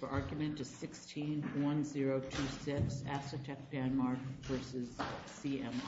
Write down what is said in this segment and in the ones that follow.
The argument is 16-1026 Asetek Danmark v. CMI. The argument is 16-1026 Asetek Danmark v. CMI.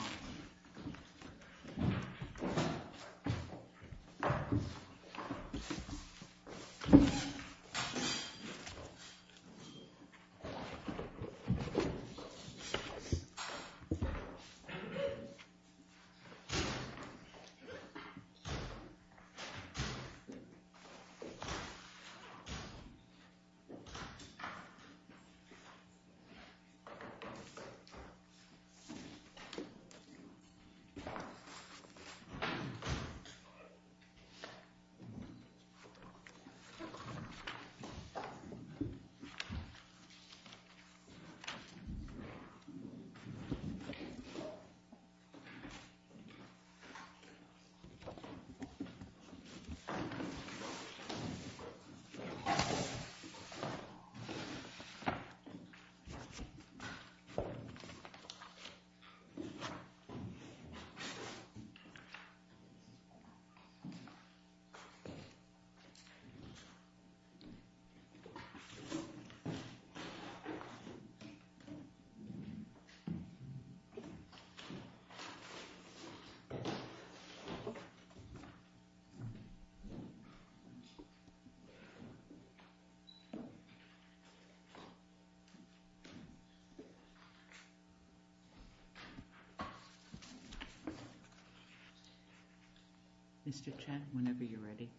Mr. Chen, whenever you're ready.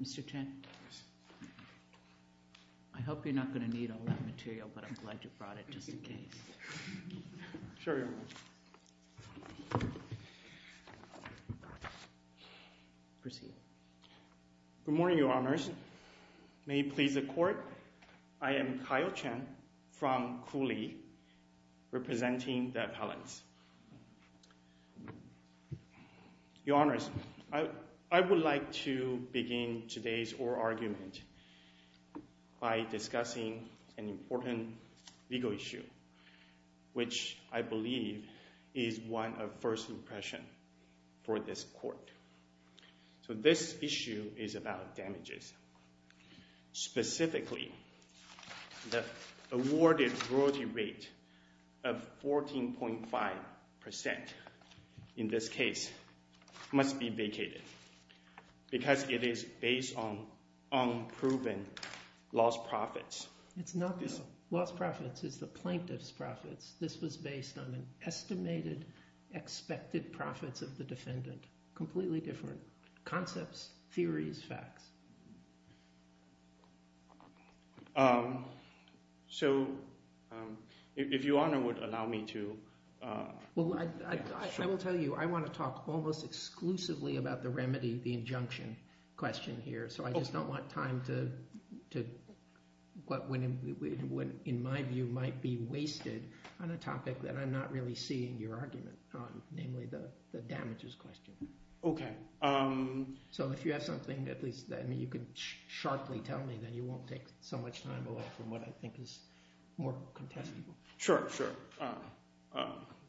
Mr. Chen, I hope you're not going to need all that material, but I'm glad you brought it just in case. Sure, Your Honor. Proceed. Good morning, Your Honors. May it please the Court, I am Kyle Chen from Cooley, representing the appellants. Your Honors, I would like to begin today's oral argument by discussing an important legal issue, which I believe is one of first impression for this Court. So this issue is about damages. Specifically, the awarded royalty rate of 14.5% in this case must be vacated because it is based on unproven lost profits. It's not the lost profits, it's the plaintiff's profits. This was based on an estimated expected profits of the defendant. Completely different concepts, theories, facts. So, if Your Honor would allow me to. Well, I will tell you, I want to talk almost exclusively about the remedy, the injunction question here, so I just don't want time to, what in my view might be wasted on a topic that I'm not really seeing your argument on, namely the damages question. Okay. So if you have something at least that you can sharply tell me, then you won't take so much time away from what I think is more contestable. Sure, sure,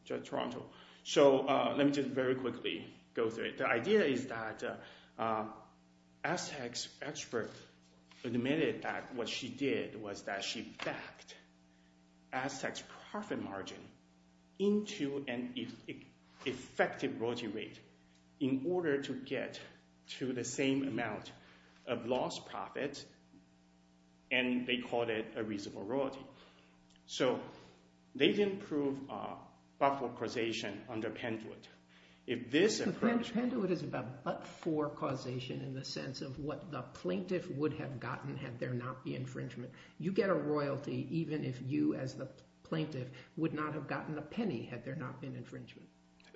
Judge Toronto. So, let me just very quickly go through it. The idea is that Aztec's expert admitted that what she did was that she backed Aztec's profit margin into an effective royalty rate in order to get to the same amount of lost profits, and they called it a reasonable royalty. So, they didn't prove buffer causation under Pentwood. Pentwood is a buffer causation in the sense of what the plaintiff would have gotten had there not been infringement. You get a royalty even if you as the plaintiff would not have gotten a penny had there not been infringement.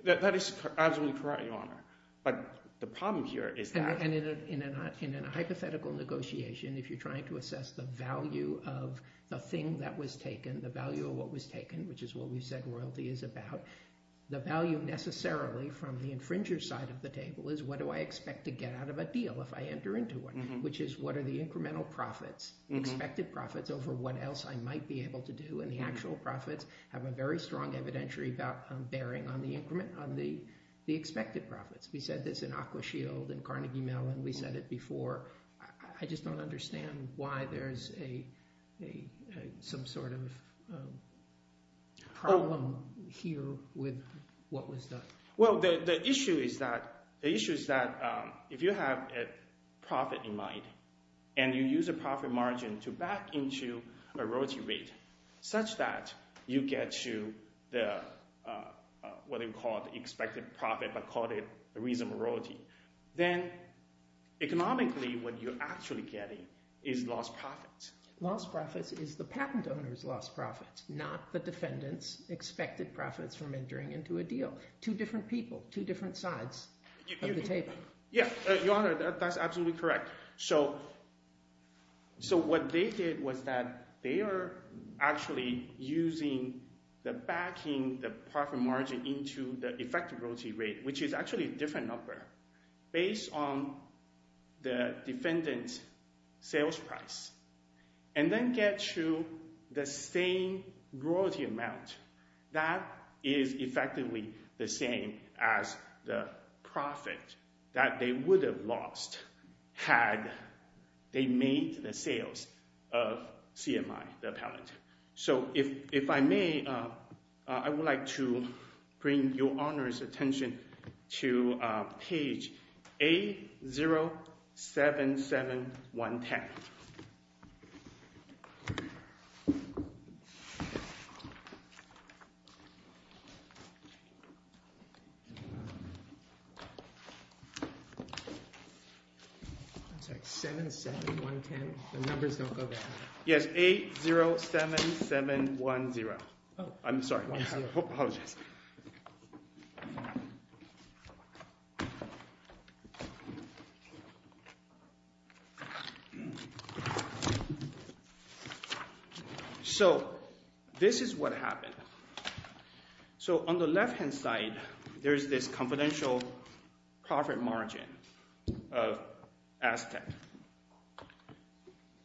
That is absolutely correct, Your Honor, but the problem here is that... And in a hypothetical negotiation, if you're trying to assess the value of the thing that was taken, the value of what was taken, which is what we said royalty is about, the value necessarily from the infringer's side of the table is what do I expect to get out of a deal if I enter into one, which is what are the incremental profits, expected profits over what else I might be able to do, and the actual profits have a very strong evidentiary bearing on the expected profits. We said this in Aquashield and Carnegie Mellon. We said it before. I just don't understand why there's some sort of problem here with what was done. Well, the issue is that if you have a profit in mind and you use a profit margin to back into a royalty rate such that you get to what we call the expected profit, but call it reasonable royalty, then economically what you're actually getting is lost profits. Lost profits is the patent owner's lost profits, not the defendant's expected profits from entering into a deal. Two different people, two different sides of the table. Yeah, Your Honor, that's absolutely correct. So what they did was that they are actually using the backing, the profit margin into the effective royalty rate, which is actually a different number based on the defendant's sales price, and then get to the same royalty amount that is effectively the same as the profit that they would have lost had they made the sales of CMI, the appellant. So if I may, I would like to bring Your Honor's attention to page 8077110. I'm sorry, 77110. The numbers don't go back. Yes, 807710. I'm sorry. I apologize. So this is what happened. So on the left-hand side, there's this confidential profit margin of Aztek.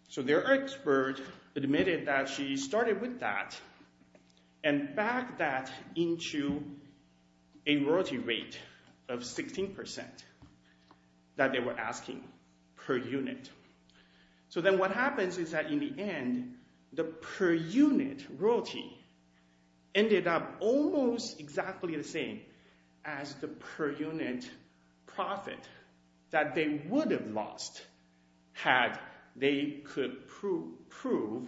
So their expert admitted that she started with that and backed that into a royalty rate of 16% that they were asking per unit. So then what happens is that in the end, the per unit royalty ended up almost exactly the same as the per unit profit that they would have lost had they could prove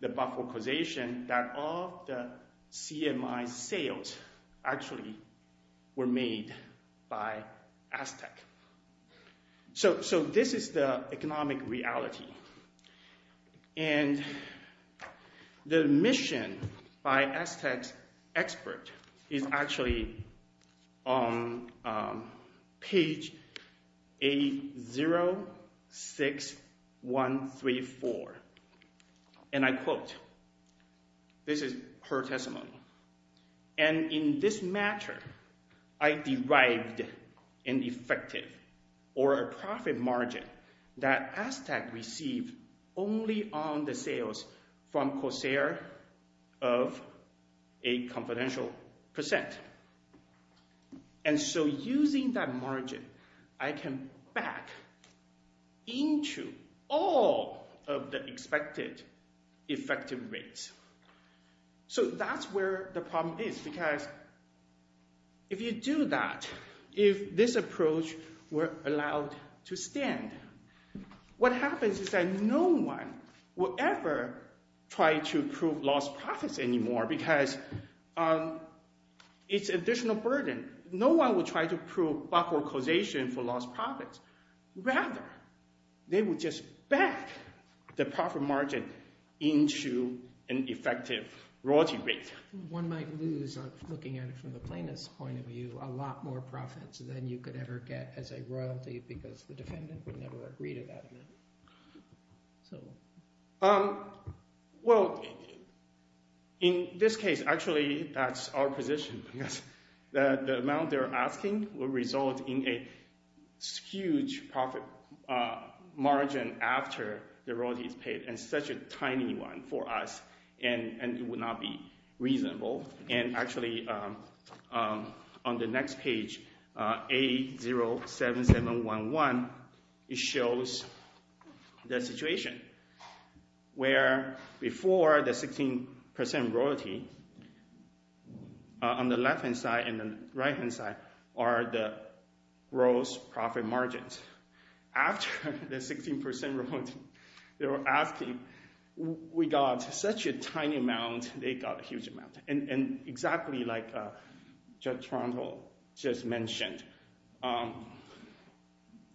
the buffer causation that all the CMI sales actually were made by Aztek. So this is the economic reality. And the admission by Aztek's expert is actually on page 806134. And I quote. This is her testimony. And in this matter, I derived an effective or a profit margin that Aztek received only on the sales from Corsair of a confidential percent. And so using that margin, I can back into all of the expected effective rates. So that's where the problem is. Because if you do that, if this approach were allowed to stand, what happens is that no one will ever try to prove lost profits anymore because it's additional burden. No one will try to prove buffer causation for lost profits. Rather, they would just back the profit margin into an effective royalty rate. One might lose, looking at it from the plaintiff's point of view, a lot more profits than you could ever get as a royalty because the defendant would never agree to that. Well, in this case, actually, that's our position. The amount they're asking will result in a huge profit margin after the royalty is paid and such a tiny one for us. And it would not be reasonable. And actually, on the next page, 807711, it shows the situation where before the 16% royalty on the left-hand side and the right-hand side are the gross profit margins. After the 16% royalty, they were asking, we got such a tiny amount, they got a huge amount. And exactly like Judge Toronto just mentioned,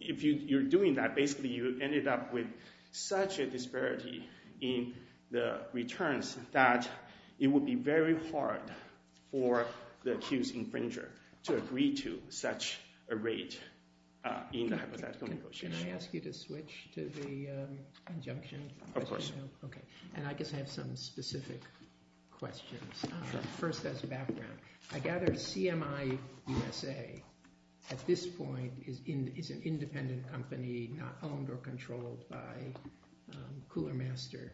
if you're doing that, basically you ended up with such a disparity in the returns that it would be very hard for the accused infringer to agree to such a rate in the hypothetical negotiation. Can I ask you to switch to the injunction? Of course. And I guess I have some specific questions. First, as a background, I gather CMI USA at this point is an independent company, not controlled by Coolermaster.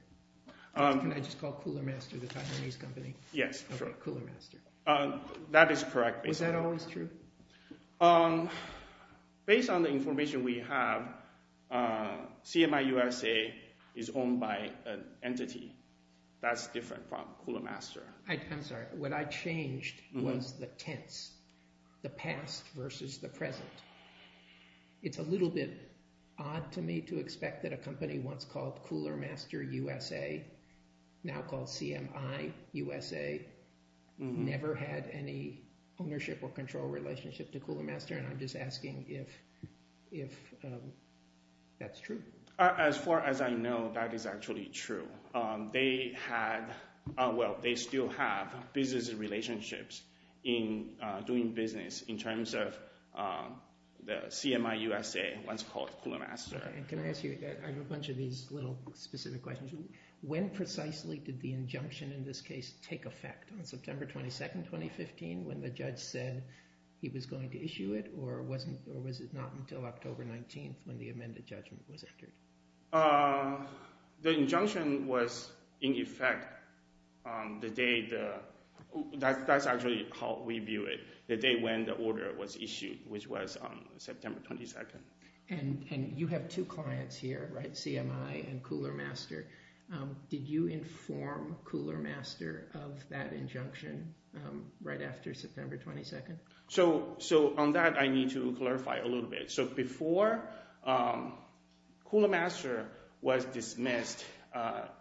Can I just call Coolermaster the Taiwanese company? Yes, sure. Coolermaster. That is correct, basically. Was that always true? Based on the information we have, CMI USA is owned by an entity. That's different from Coolermaster. I'm sorry. What I changed was the tense, the past versus the present. It's a little bit odd to me to expect that a company once called Coolermaster USA, now called CMI USA, never had any ownership or control relationship to Coolermaster. And I'm just asking if that's true. As far as I know, that is actually true. They still have business relationships in doing business in terms of the CMI USA, once called Coolermaster. Can I ask you, I have a bunch of these little specific questions. When precisely did the injunction in this case take effect? On September 22, 2015, when the judge said he was going to issue it? Or was it not until October 19, when the amended judgment was entered? The injunction was in effect the day, that's actually how we view it, the day when the order was issued, which was September 22. And you have two clients here, right? CMI and Coolermaster. Did you inform Coolermaster of that injunction right after September 22? So on that, I need to clarify a little bit. So before, Coolermaster was dismissed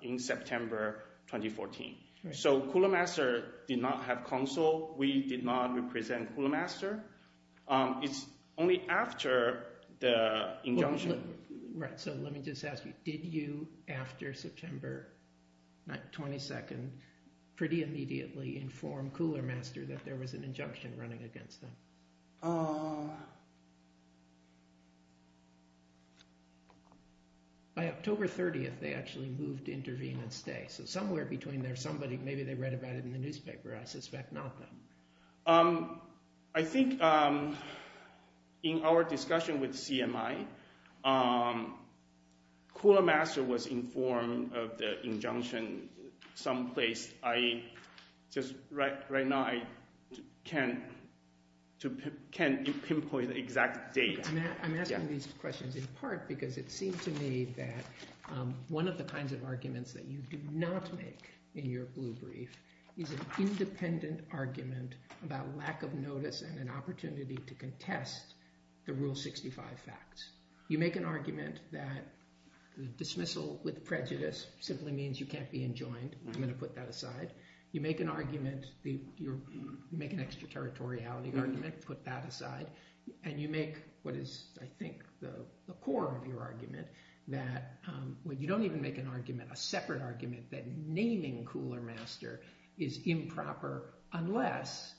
in September 2014. So Coolermaster did not have counsel. We did not represent Coolermaster. It's only after the injunction. Right, so let me just ask you, did you, after September 22, pretty immediately inform Coolermaster that there was an injunction running against them? By October 30, they actually moved to intervene and stay. So somewhere between there's somebody, maybe they read about it in the newspaper. I suspect not them. I think in our discussion with CMI, Coolermaster was informed of the injunction someplace. Right now, I can't pinpoint the exact date. I'm asking these questions in part because it seems to me that one of the kinds of arguments that you do not make in your blue brief is an independent argument about lack of notice and an opportunity to contest the Rule 65 facts. You make an argument that the dismissal with prejudice simply means you can't be enjoined. I'm going to put that aside. You make an argument, you make an extraterritoriality argument, put that aside, and you make what is, I think, the core of your argument that you don't even make an argument, a separate argument, that naming Coolermaster is improper unless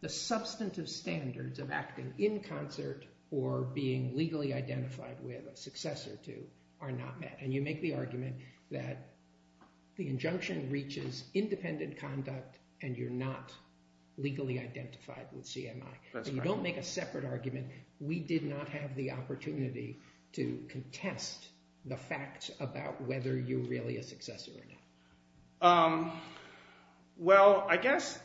the substantive standards of acting in concert or being legally identified with a successor to are not met. You make the argument that the injunction reaches independent conduct and you're not legally identified with CMI. That's correct. You don't make a separate argument. We did not have the opportunity to contest the facts about whether you're really a successor or not. Well, I guess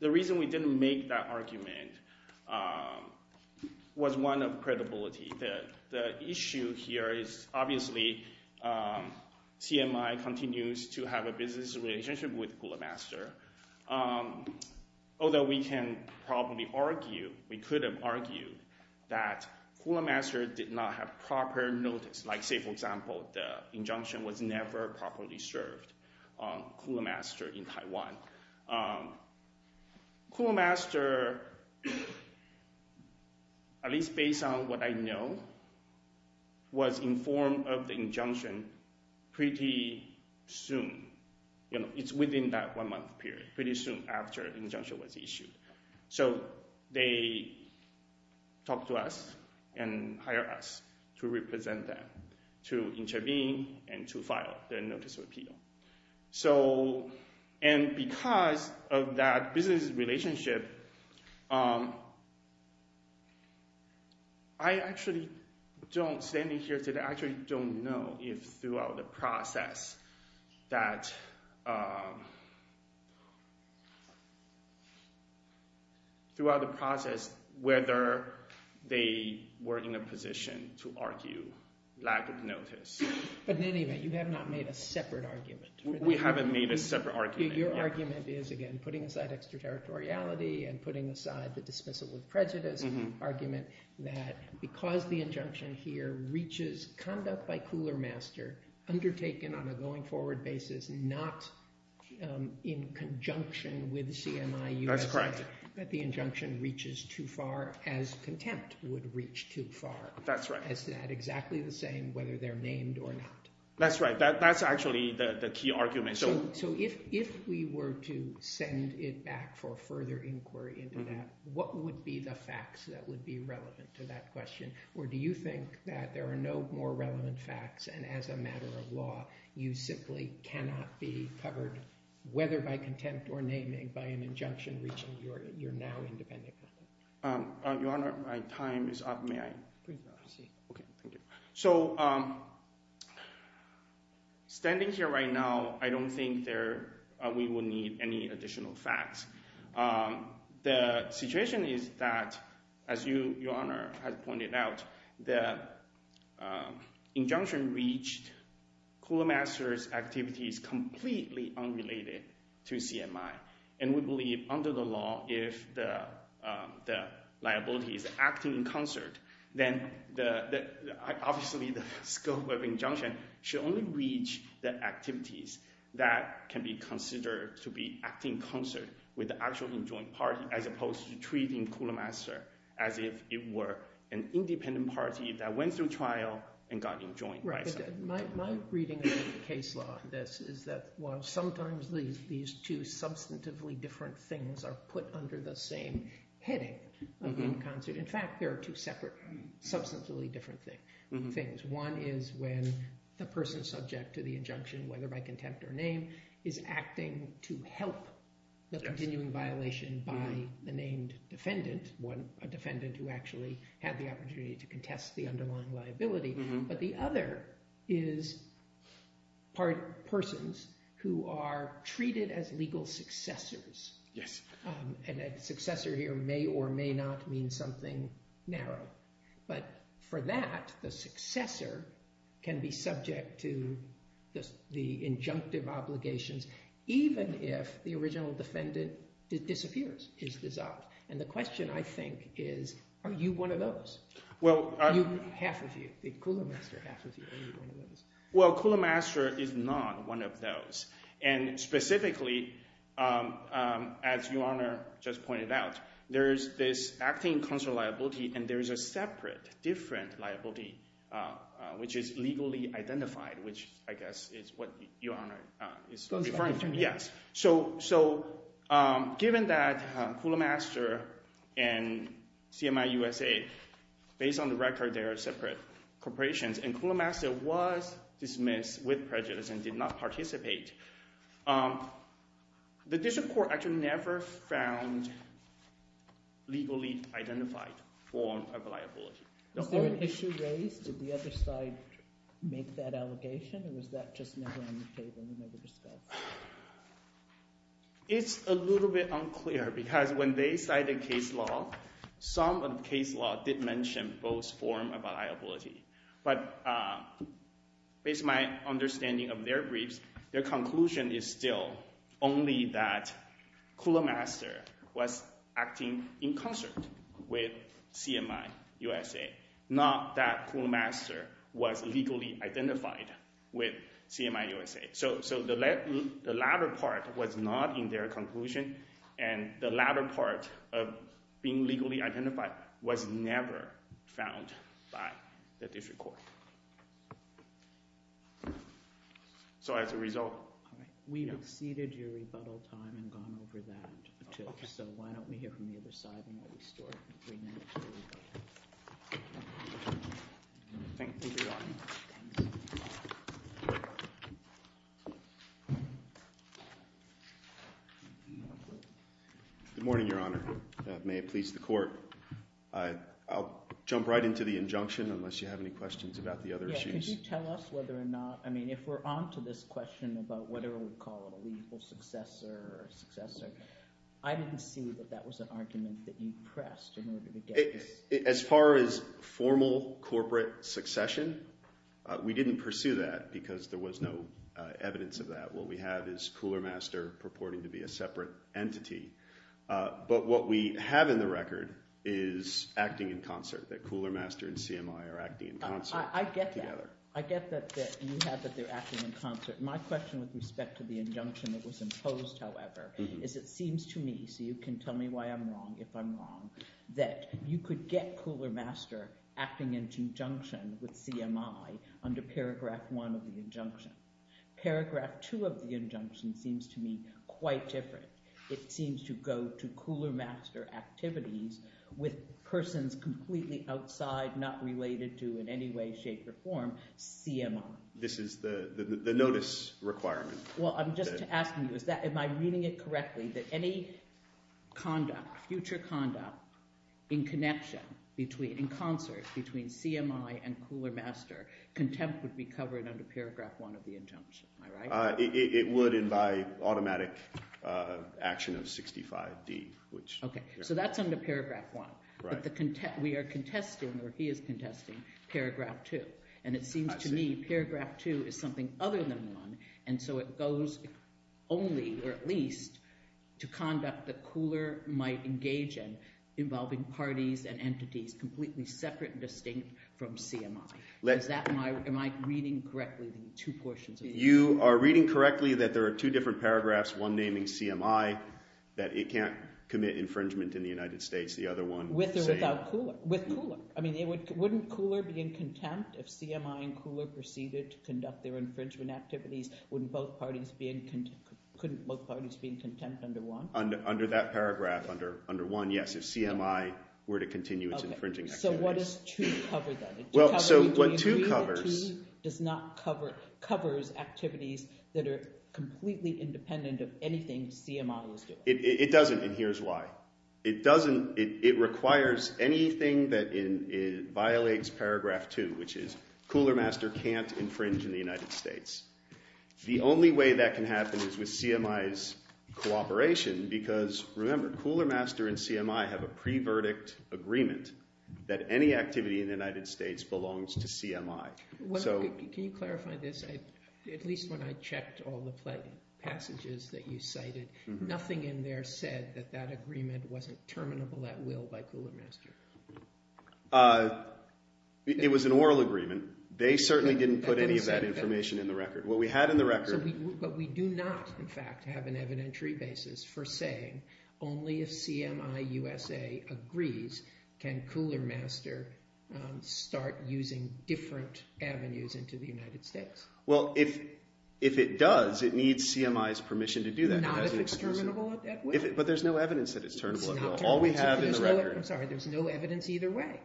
the reason we didn't make that argument was one of credibility. The issue here is, obviously, CMI continues to have a business relationship with Coolermaster, although we can probably argue, we could have argued, that Coolermaster did not have proper notice. Say, for example, the injunction was never properly served on Coolermaster in Taiwan. Coolermaster, at least based on what I know, was informed of the injunction pretty soon. It's within that one month period, pretty soon after the injunction was issued. So they talked to us and hired us to represent them, to intervene and to file the notice of appeal. And because of that business relationship, I actually don't, standing here today, I actually don't know if throughout the process whether they were in a position to argue lack of notice. But in any event, you have not made a separate argument. We haven't made a separate argument. Your argument is, again, putting aside extraterritoriality and putting aside the dismissal of prejudice argument, that because the injunction here reaches conduct by Coolermaster, undertaken on a going forward basis, not in conjunction with CMI USA, that the injunction reaches too far, as contempt would reach too far. That's right. Is that exactly the same, whether they're named or not? That's right. That's actually the key argument. So if we were to send it back for further inquiry into that, what would be the facts that would be relevant to that question? Or do you think that there are no more relevant facts, and as a matter of law, you simply cannot be covered, whether by contempt or naming, by an injunction reaching your now independent conduct? Your Honor, my time is up. May I? Please go ahead. Okay. Thank you. So standing here right now, I don't think we will need any additional facts. The situation is that, as Your Honor has pointed out, the injunction reached Coolermaster's activities completely unrelated to CMI. And we believe, under the law, if the liability is acting in concert, then obviously the scope of injunction should only reach the activities that can be considered to be acting in concert with the actual enjoined party, as opposed to treating Coolermaster as if it were an independent party that went through trial and got enjoined by CMI. But my reading of the case law on this is that while sometimes these two substantively different things are put under the same heading of in concert, in fact, there are two separate substantively different things. One is when the person subject to the injunction, whether by contempt or name, is acting to help the continuing violation by the named defendant, a defendant who actually had the is persons who are treated as legal successors. Yes. And a successor here may or may not mean something narrow. But for that, the successor can be subject to the injunctive obligations, even if the original defendant disappears, is dissolved. And the question, I think, is are you one of those? Half of you. Coolermaster, half of you. Are you one of those? Well, Coolermaster is not one of those. And specifically, as Your Honor just pointed out, there is this acting in concert liability and there is a separate different liability, which is legally identified, which I guess is what Your Honor is referring to. Yes. So given that Coolermaster and CMI USA, based on the record, they are separate corporations, and Coolermaster was dismissed with prejudice and did not participate, the district court actually never found legally identified form of liability. Was there an issue raised? Did the other side make that allegation? Or was that just never on the table and never discussed? It's a little bit unclear because when they cited case law, some of the case law did mention both forms of liability. But based on my understanding of their briefs, their conclusion is still only that Coolermaster was acting in concert with CMI USA, not that Coolermaster was legally identified with CMI USA. So the latter part was not in their conclusion, and the latter part of being legally identified was never found by the district court. So as a result— We've exceeded your rebuttal time and gone over that. So why don't we hear from the other side and we'll restore it. Good morning, Your Honor. May it please the court. I'll jump right into the injunction unless you have any questions about the other issues. Could you tell us whether or not—I mean, if we're on to this question about whatever we call a lethal successor or successor, I didn't see that that was an argument that you pressed in order to get this— As far as formal corporate succession, we didn't pursue that because there was no evidence of that. What we have is Coolermaster purporting to be a separate entity. But what we have in the record is acting in concert, that Coolermaster and CMI are acting in concert together. I get that. I get that you have that they're acting in concert. My question with respect to the injunction that was imposed, however, is it seems to me—so you can tell me why I'm wrong if I'm wrong—that you could get Coolermaster acting in conjunction with CMI under paragraph one of the injunction. Paragraph two of the injunction seems to me quite different. It seems to go to Coolermaster activities with persons completely outside, not related to in any way, shape, or form, CMI. This is the notice requirement. Well, I'm just asking you, am I reading it correctly that any conduct, future conduct in connection, in concert between CMI and Coolermaster, contempt would be covered under paragraph one of the injunction, am I right? It would, and by automatic action of 65D, which— I see. And it seems to me paragraph two is something other than one, and so it goes only, or at least, to conduct that Cooler might engage in involving parties and entities completely separate and distinct from CMI. Am I reading correctly the two portions of the injunction? You are reading correctly that there are two different paragraphs, one naming CMI, that it can't commit infringement in the United States, the other one saying— With or without Cooler? With Cooler. I mean, wouldn't Cooler be in contempt if CMI and Cooler proceeded to conduct their infringement activities? Wouldn't both parties be in—couldn't both parties be in contempt under one? Under that paragraph, under one, yes, if CMI were to continue its infringing activities. Okay, so what does two cover then? Well, so what two covers— Do you agree that two does not cover—covers activities that are completely independent of anything CMI is doing? It doesn't, and here's why. It doesn't—it requires anything that violates paragraph two, which is Cooler Master can't infringe in the United States. The only way that can happen is with CMI's cooperation because, remember, Cooler Master and CMI have a pre-verdict agreement that any activity in the United States belongs to CMI. Can you clarify this? At least when I checked all the passages that you cited, nothing in there said that that infringement wasn't terminable at will by Cooler Master. It was an oral agreement. They certainly didn't put any of that information in the record. What we had in the record— But we do not, in fact, have an evidentiary basis for saying only if CMI USA agrees can Cooler Master start using different avenues into the United States. Well, if it does, it needs CMI's permission to do that. Not if it's terminable at that will. But there's no evidence that it's terminable at will. It's not terminable at that will. All we have in the record— I'm sorry. There's no evidence either way.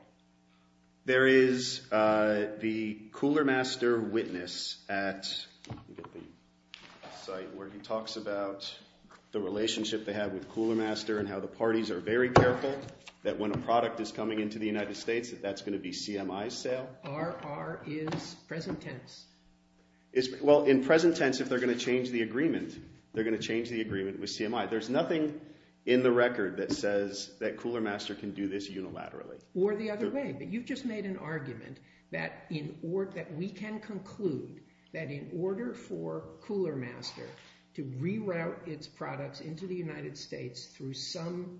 There is the Cooler Master witness at the site where he talks about the relationship they have with Cooler Master and how the parties are very careful that when a product is coming into the United States that that's going to be CMI's sale. RR is present tense. Well, in present tense, if they're going to change the agreement, they're going to change the agreement with CMI. There's nothing in the record that says that Cooler Master can do this unilaterally. Or the other way. But you've just made an argument that we can conclude that in order for Cooler Master to reroute its products into the United States through some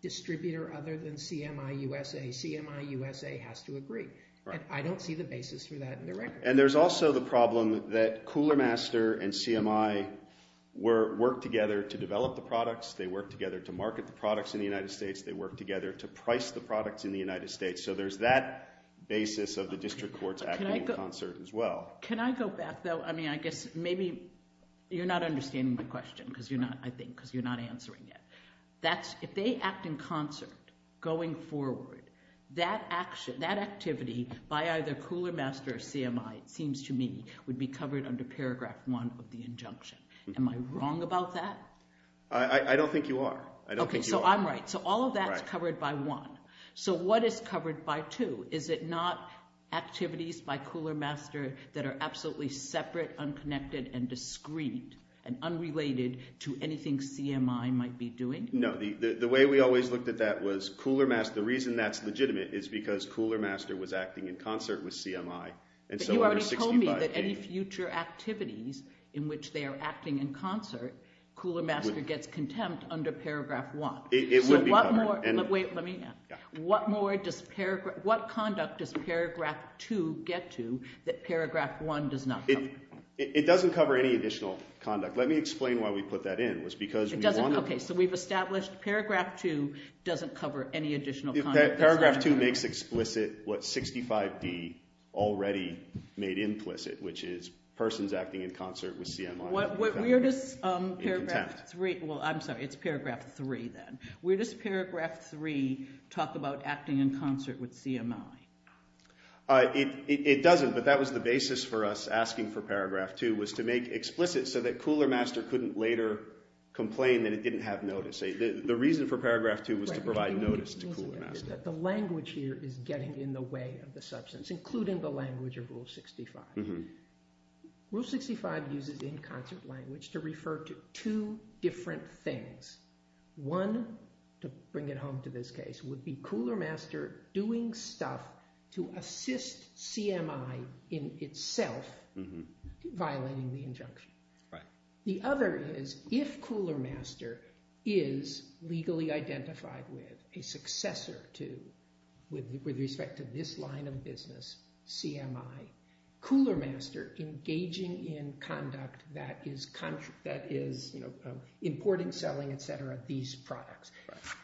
distributor other than CMI USA, CMI USA has to agree. And I don't see the basis for that in the record. And there's also the problem that Cooler Master and CMI work together to develop the products. They work together to market the products in the United States. They work together to price the products in the United States. So there's that basis of the district courts acting in concert as well. Can I go back, though? I mean, I guess maybe you're not understanding my question, I think, because you're not answering it. If they act in concert going forward, that activity by either Cooler Master or CMI, it seems to me, would be covered under paragraph one of the injunction. Am I wrong about that? I don't think you are. I don't think you are. Okay, so I'm right. So all of that is covered by one. Right. So what is covered by two? Is it not activities by Cooler Master that are absolutely separate, unconnected, and No, the way we always looked at that was Cooler Master, the reason that's legitimate is because Cooler Master was acting in concert with CMI. But you already told me that any future activities in which they are acting in concert, Cooler Master gets contempt under paragraph one. It would be covered. So what more, wait, let me, what more does paragraph, what conduct does paragraph two get to that paragraph one does not cover? It doesn't cover any additional conduct. Let me explain why we put that in. Okay, so we've established paragraph two doesn't cover any additional conduct. Paragraph two makes explicit what 65D already made implicit, which is persons acting in concert with CMI. Where does paragraph three, well, I'm sorry, it's paragraph three then. Where does paragraph three talk about acting in concert with CMI? It doesn't, but that was the basis for us asking for paragraph two was to make explicit so that Cooler Master couldn't later complain that it didn't have notice. The reason for paragraph two was to provide notice to Cooler Master. The language here is getting in the way of the substance, including the language of Rule 65. Rule 65 uses in concert language to refer to two different things. One, to bring it home to this case, would be Cooler Master doing stuff to assist CMI in itself, violating the injunction. The other is, if Cooler Master is legally identified with a successor to, with respect to this line of business, CMI, Cooler Master engaging in conduct that is importing, selling, et cetera, these products.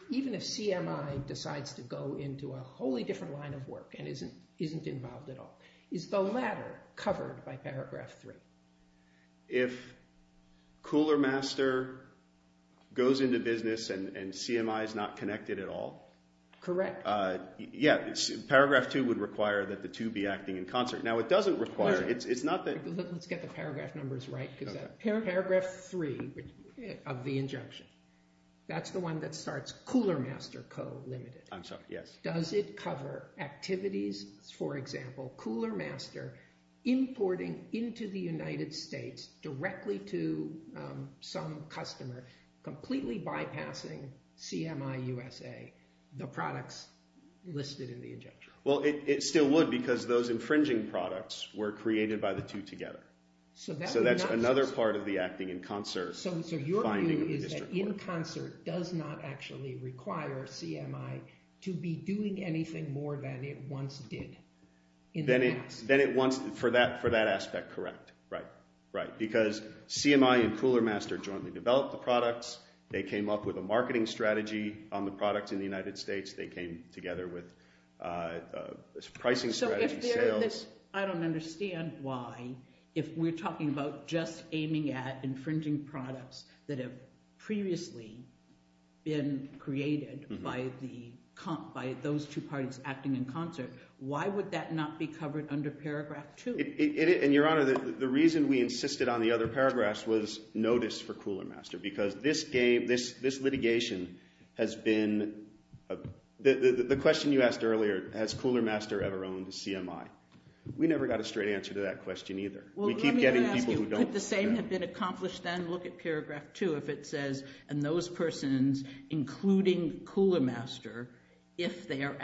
Even if CMI decides to go into a wholly different line of work and isn't involved at all, is the latter covered by paragraph three? If Cooler Master goes into business and CMI is not connected at all? Correct. Yeah. Paragraph two would require that the two be acting in concert. Now, it doesn't require. It's not that. Let's get the paragraph numbers right because paragraph three of the injunction, that's the one that starts Cooler Master Co., Ltd. I'm sorry. Yes. Does it cover activities, for example, Cooler Master importing into the United States directly to some customer, completely bypassing CMI USA, the products listed in the injunction? Well, it still would because those infringing products were created by the two together. So that's another part of the acting in concert finding of the district court. But in concert does not actually require CMI to be doing anything more than it once did in the past. Then it wants – for that aspect, correct. Right. Right. Because CMI and Cooler Master jointly developed the products. They came up with a marketing strategy on the products in the United States. They came together with a pricing strategy, sales. I don't understand why if we're talking about just aiming at infringing products that have previously been created by those two parties acting in concert, why would that not be covered under paragraph two? And, Your Honor, the reason we insisted on the other paragraphs was notice for Cooler Master because this litigation has been – the question you asked earlier, has Cooler Master ever owned CMI? We never got a straight answer to that question either. We keep getting people who don't. Well, let me ask you, could the same have been accomplished then? Look at paragraph two if it says, and those persons including Cooler Master, if they are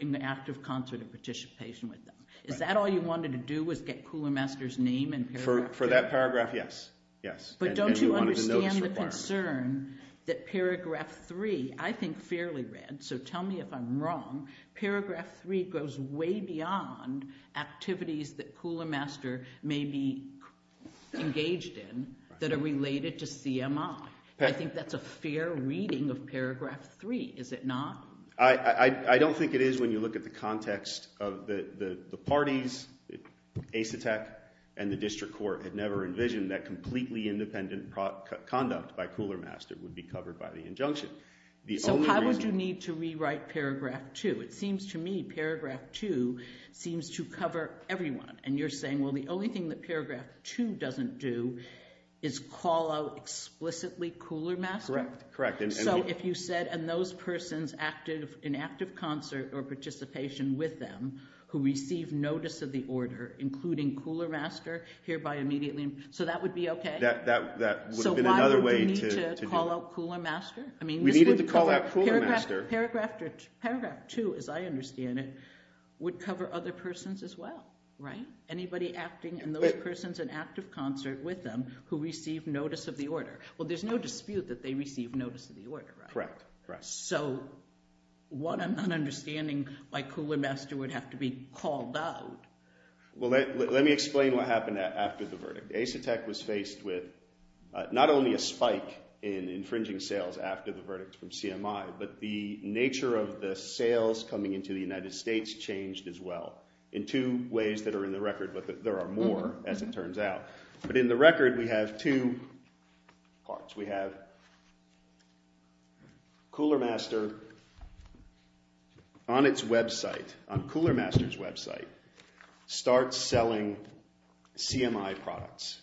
in active concert of participation with them. Is that all you wanted to do was get Cooler Master's name and paragraph three? For that paragraph, yes. Yes. But don't you understand the concern that paragraph three, I think fairly read, so tell me if I'm wrong, paragraph three goes way beyond activities that Cooler Master may be engaged in that are related to CMI. I think that's a fair reading of paragraph three, is it not? I don't think it is when you look at the context of the parties. ACETEC and the district court had never envisioned that completely independent conduct by Cooler Master would be covered by the injunction. So why would you need to rewrite paragraph two? It seems to me paragraph two seems to cover everyone. And you're saying, well, the only thing that paragraph two doesn't do is call out explicitly Cooler Master? Correct. So if you said, and those persons in active concert or participation with them who receive notice of the order, including Cooler Master, hereby immediately, so that would be okay? That would have been another way to do it. So why would we need to call out Cooler Master? We needed to call out Cooler Master. Paragraph two, as I understand it, would cover other persons as well, right? Anybody acting and those persons in active concert with them who receive notice of the order. Well, there's no dispute that they receive notice of the order, right? Correct. So what I'm not understanding by Cooler Master would have to be called out. Well, let me explain what happened after the verdict. ACETEC was faced with not only a spike in infringing sales after the verdict from CMI, but the nature of the sales coming into the United States changed as well in two ways that are in the record, but there are more, as it turns out. But in the record, we have two parts. We have Cooler Master on its website, on Cooler Master's website, starts selling CMI products,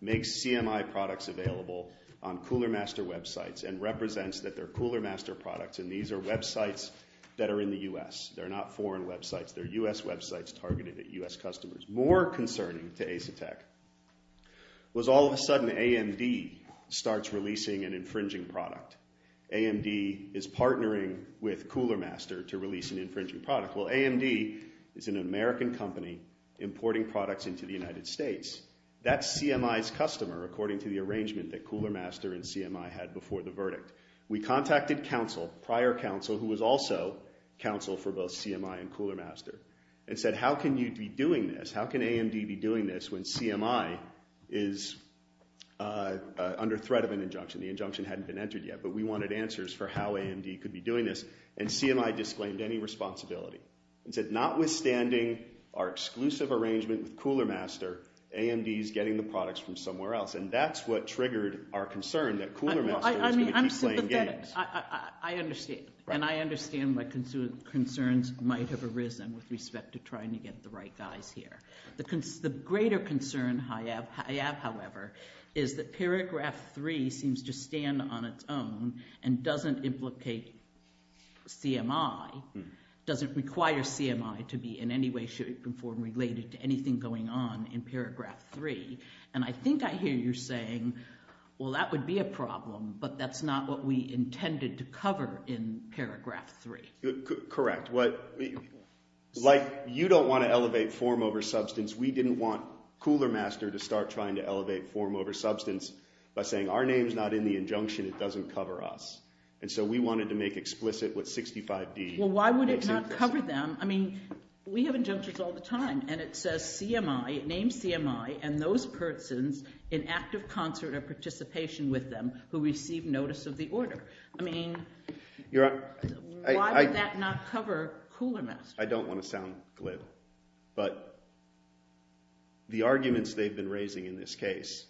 makes CMI products available on Cooler Master websites and represents that they're Cooler Master products, and these are websites that are in the U.S. They're not foreign websites. They're U.S. websites targeted at U.S. customers. What's more concerning to ACETEC was all of a sudden AMD starts releasing an infringing product. AMD is partnering with Cooler Master to release an infringing product. Well, AMD is an American company importing products into the United States. That's CMI's customer according to the arrangement that Cooler Master and CMI had before the verdict. We contacted counsel, prior counsel who was also counsel for both CMI and Cooler Master, and said how can you be doing this? How can AMD be doing this when CMI is under threat of an injunction? The injunction hadn't been entered yet, but we wanted answers for how AMD could be doing this, and CMI disclaimed any responsibility and said notwithstanding our exclusive arrangement with Cooler Master, AMD is getting the products from somewhere else, and that's what triggered our concern that Cooler Master was going to keep playing games. I understand. And I understand my concerns might have arisen with respect to trying to get the right guys here. The greater concern I have, however, is that paragraph 3 seems to stand on its own and doesn't implicate CMI, doesn't require CMI to be in any way, shape, or form related to anything going on in paragraph 3. And I think I hear you saying, well, that would be a problem, but that's not what we intended to cover in paragraph 3. Correct. Like you don't want to elevate form over substance, we didn't want Cooler Master to start trying to elevate form over substance by saying our name's not in the injunction, it doesn't cover us. And so we wanted to make explicit what 65D makes explicit. Well, why would it not cover them? I mean, we have injunctions all the time, and it says CMI, it names CMI, and those persons in active concert or participation with them who receive notice of the order. I mean, why would that not cover Cooler Master? I don't want to sound glib, but the arguments they've been raising in this case,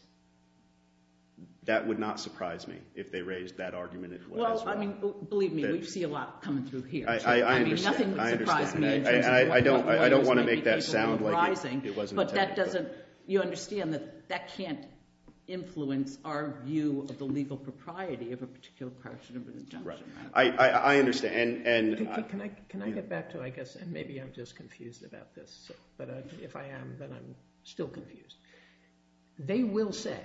that would not surprise me if they raised that argument as well. Well, I mean, believe me, we see a lot coming through here. I understand. I mean, nothing would surprise me in terms of what the lawyers maybe people were advising. It wasn't technical. But that doesn't, you understand that that can't influence our view of the legal propriety of a particular part of an injunction. Right. I understand. Can I get back to, I guess, and maybe I'm just confused about this, but if I am, then I'm still confused. They will say,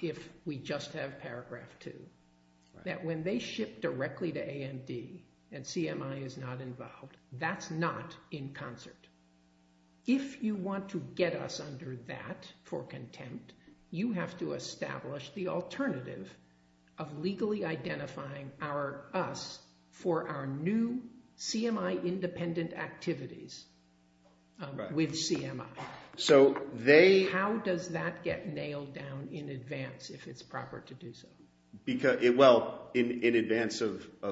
if we just have paragraph 2, that when they ship directly to AMD and CMI is not involved, that's not in concert. If you want to get us under that for contempt, you have to establish the alternative of legally identifying us for our new CMI independent activities with CMI. So they – How does that get nailed down in advance if it's proper to do so? Well, in advance of –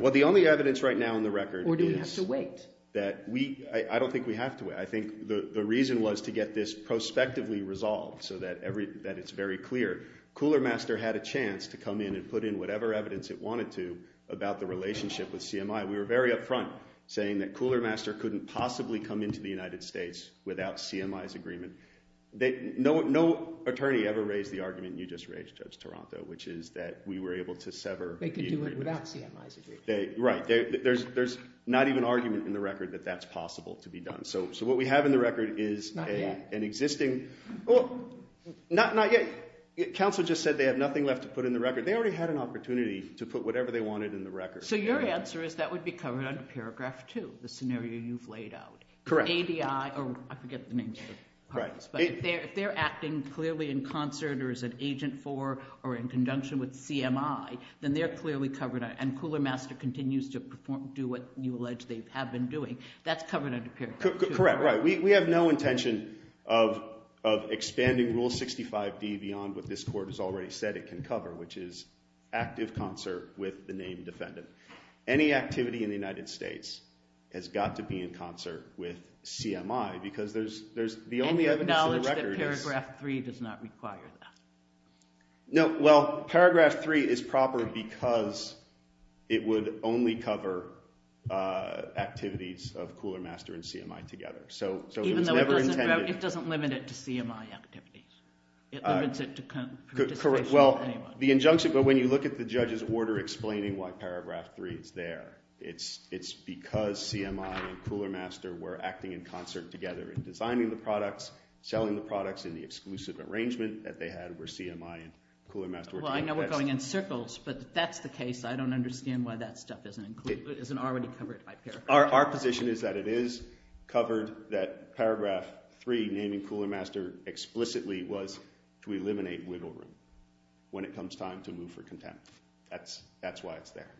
Well, the only evidence right now on the record is – Or do we have to wait? I don't think we have to wait. I think the reason was to get this prospectively resolved so that it's very clear. Coolermaster had a chance to come in and put in whatever evidence it wanted to about the relationship with CMI. We were very upfront saying that Coolermaster couldn't possibly come into the United States without CMI's agreement. No attorney ever raised the argument you just raised, Judge Taranto, which is that we were able to sever the agreement. They could do it without CMI's agreement. Right. There's not even argument in the record that that's possible to be done. So what we have in the record is an existing – Not yet. Well, not yet. Counsel just said they have nothing left to put in the record. They already had an opportunity to put whatever they wanted in the record. So your answer is that would be covered under paragraph 2, the scenario you've laid out. Correct. I forget the names of the parties, but if they're acting clearly in concert or as an agent for or in conjunction with CMI, then they're clearly covered, and Coolermaster continues to do what you allege they have been doing. That's covered under paragraph 2. Correct. We have no intention of expanding Rule 65D beyond what this court has already said it can cover, which is active concert with the named defendant. Any activity in the United States has got to be in concert with CMI because there's – And you acknowledge that paragraph 3 does not require that. No. Well, paragraph 3 is proper because it would only cover activities of Coolermaster and CMI together. So it was never intended – Even though it doesn't limit it to CMI activities. It limits it to participation with anyone. The injunction – but when you look at the judge's order explaining why paragraph 3 is there, it's because CMI and Coolermaster were acting in concert together in designing the products, selling the products in the exclusive arrangement that they had where CMI and Coolermaster were taking – Well, I know we're going in circles, but that's the case. I don't understand why that stuff isn't included – isn't already covered by paragraph 3. Our position is that it is covered, that paragraph 3 naming Coolermaster explicitly was to eliminate wiggle room when it comes time to move for contempt. That's why it's there.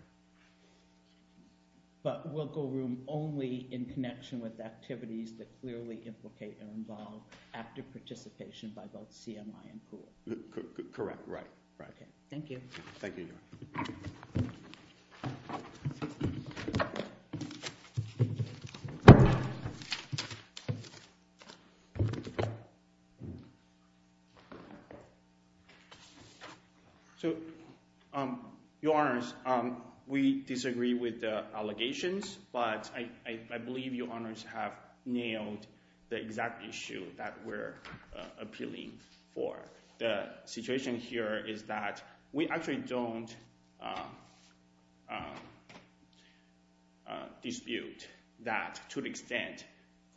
But wiggle room only in connection with activities that clearly implicate and involve active participation by both CMI and COOL? Correct. Right. Right. Thank you. Thank you. So, Your Honors, we disagree with the allegations, but I believe Your Honors have nailed the exact issue that we're appealing for. The situation here is that we actually don't dispute that to the extent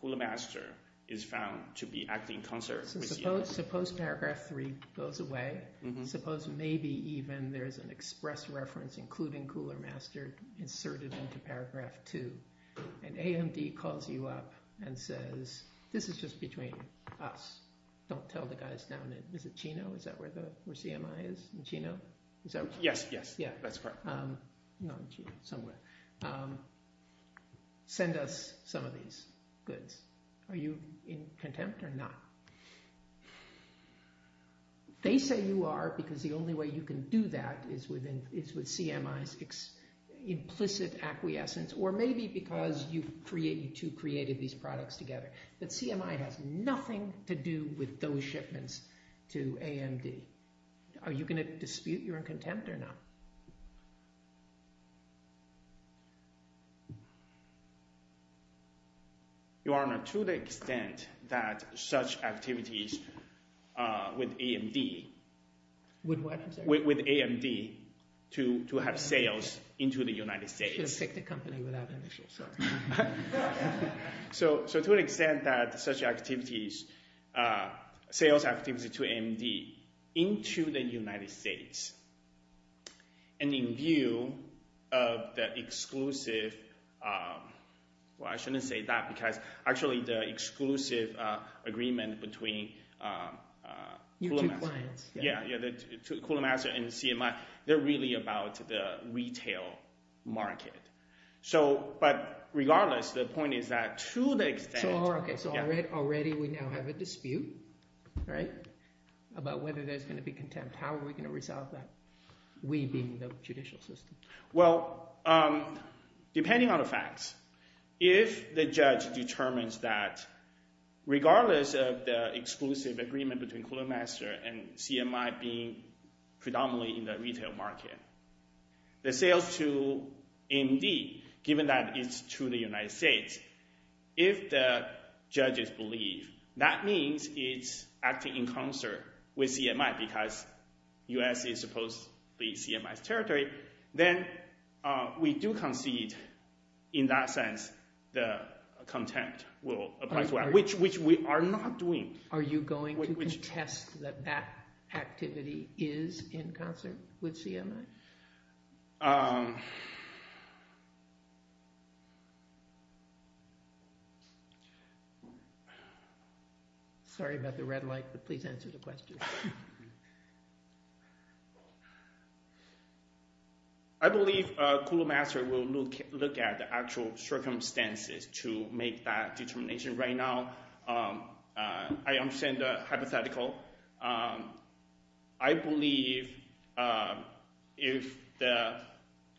Coolermaster is found to be acting in concert. Suppose paragraph 3 goes away. Suppose maybe even there's an express reference including Coolermaster inserted into paragraph 2, and AMD calls you up and says, this is just between us, don't tell the guys down at – is it Chino? Is that where CMI is? In Chino? Yes. Yes. That's correct. Not in Chino. Somewhere. Send us some of these goods. Are you in contempt or not? They say you are because the only way you can do that is with CMI's implicit acquiescence or maybe because you two created these products together. But CMI has nothing to do with those shipments to AMD. Are you going to dispute your contempt or not? Your Honor, to the extent that such activities with AMD – With what, I'm sorry? With AMD to have sales into the United States – You should have picked a company without initials. Sorry. So to an extent that such activities, sales activities to AMD into the United States, and in view of the exclusive – well, I shouldn't say that because actually the exclusive agreement between Coolermaster and CMI, they're really about the retail market. But regardless, the point is that to the extent – So already we now have a dispute about whether there's going to be contempt. How are we going to resolve that, we being the judicial system? Well, depending on the facts, if the judge determines that regardless of the exclusive agreement between Coolermaster and CMI being predominantly in the retail market, the sales to AMD, given that it's to the United States, if the judges believe that means it's acting in concert with CMI because the U.S. is supposed to be CMI's territory, then we do concede in that sense the contempt, which we are not doing. Are you going to contest that that activity is in concert with CMI? Sorry about the red light, but please answer the question. I believe Coolermaster will look at the actual circumstances to make that determination. Right now I understand the hypothetical. I believe if the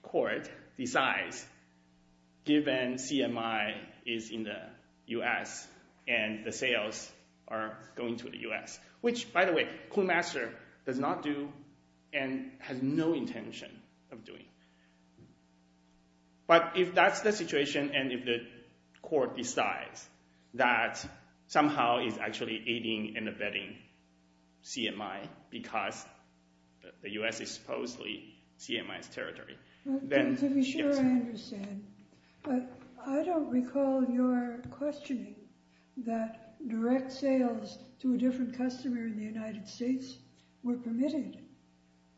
court decides given CMI is in the U.S. and the sales are going to the U.S., which, by the way, Coolermaster does not do and has no intention of doing. But if that's the situation and if the court decides that somehow it's actually aiding and abetting CMI because the U.S. is supposedly CMI's territory, then yes. To be sure I understand, but I don't recall your questioning that direct sales to a different customer in the United States were permitted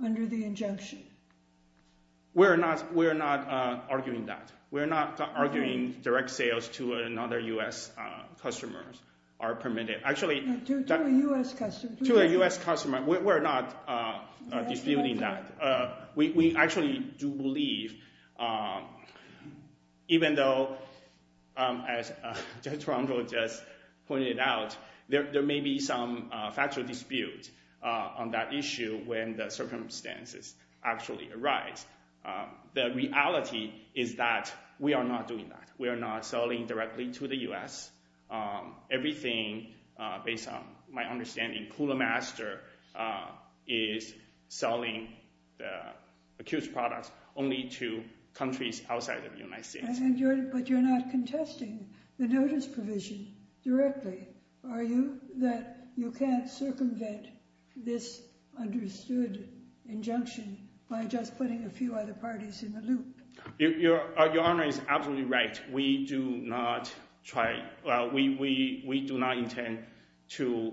under the injunction. We're not arguing that. We're not arguing direct sales to another U.S. customer are permitted. To a U.S. customer. To a U.S. customer. We're not disputing that. We actually do believe, even though as Judge Tromgold just pointed out, there may be some factual dispute on that issue when the circumstances actually arise. The reality is that we are not doing that. We are not selling directly to the U.S. Everything, based on my understanding, Coolermaster is selling the accused products only to countries outside of the United States. But you're not contesting the notice provision directly. Are you? That you can't circumvent this understood injunction by just putting a few other parties in the loop. Your Honor is absolutely right. We do not intend to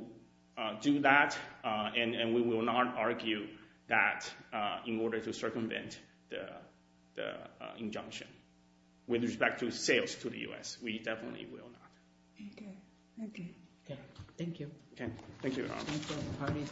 do that. And we will not argue that in order to circumvent the injunction. With respect to sales to the U.S., we definitely will not. Thank you, Your Honor.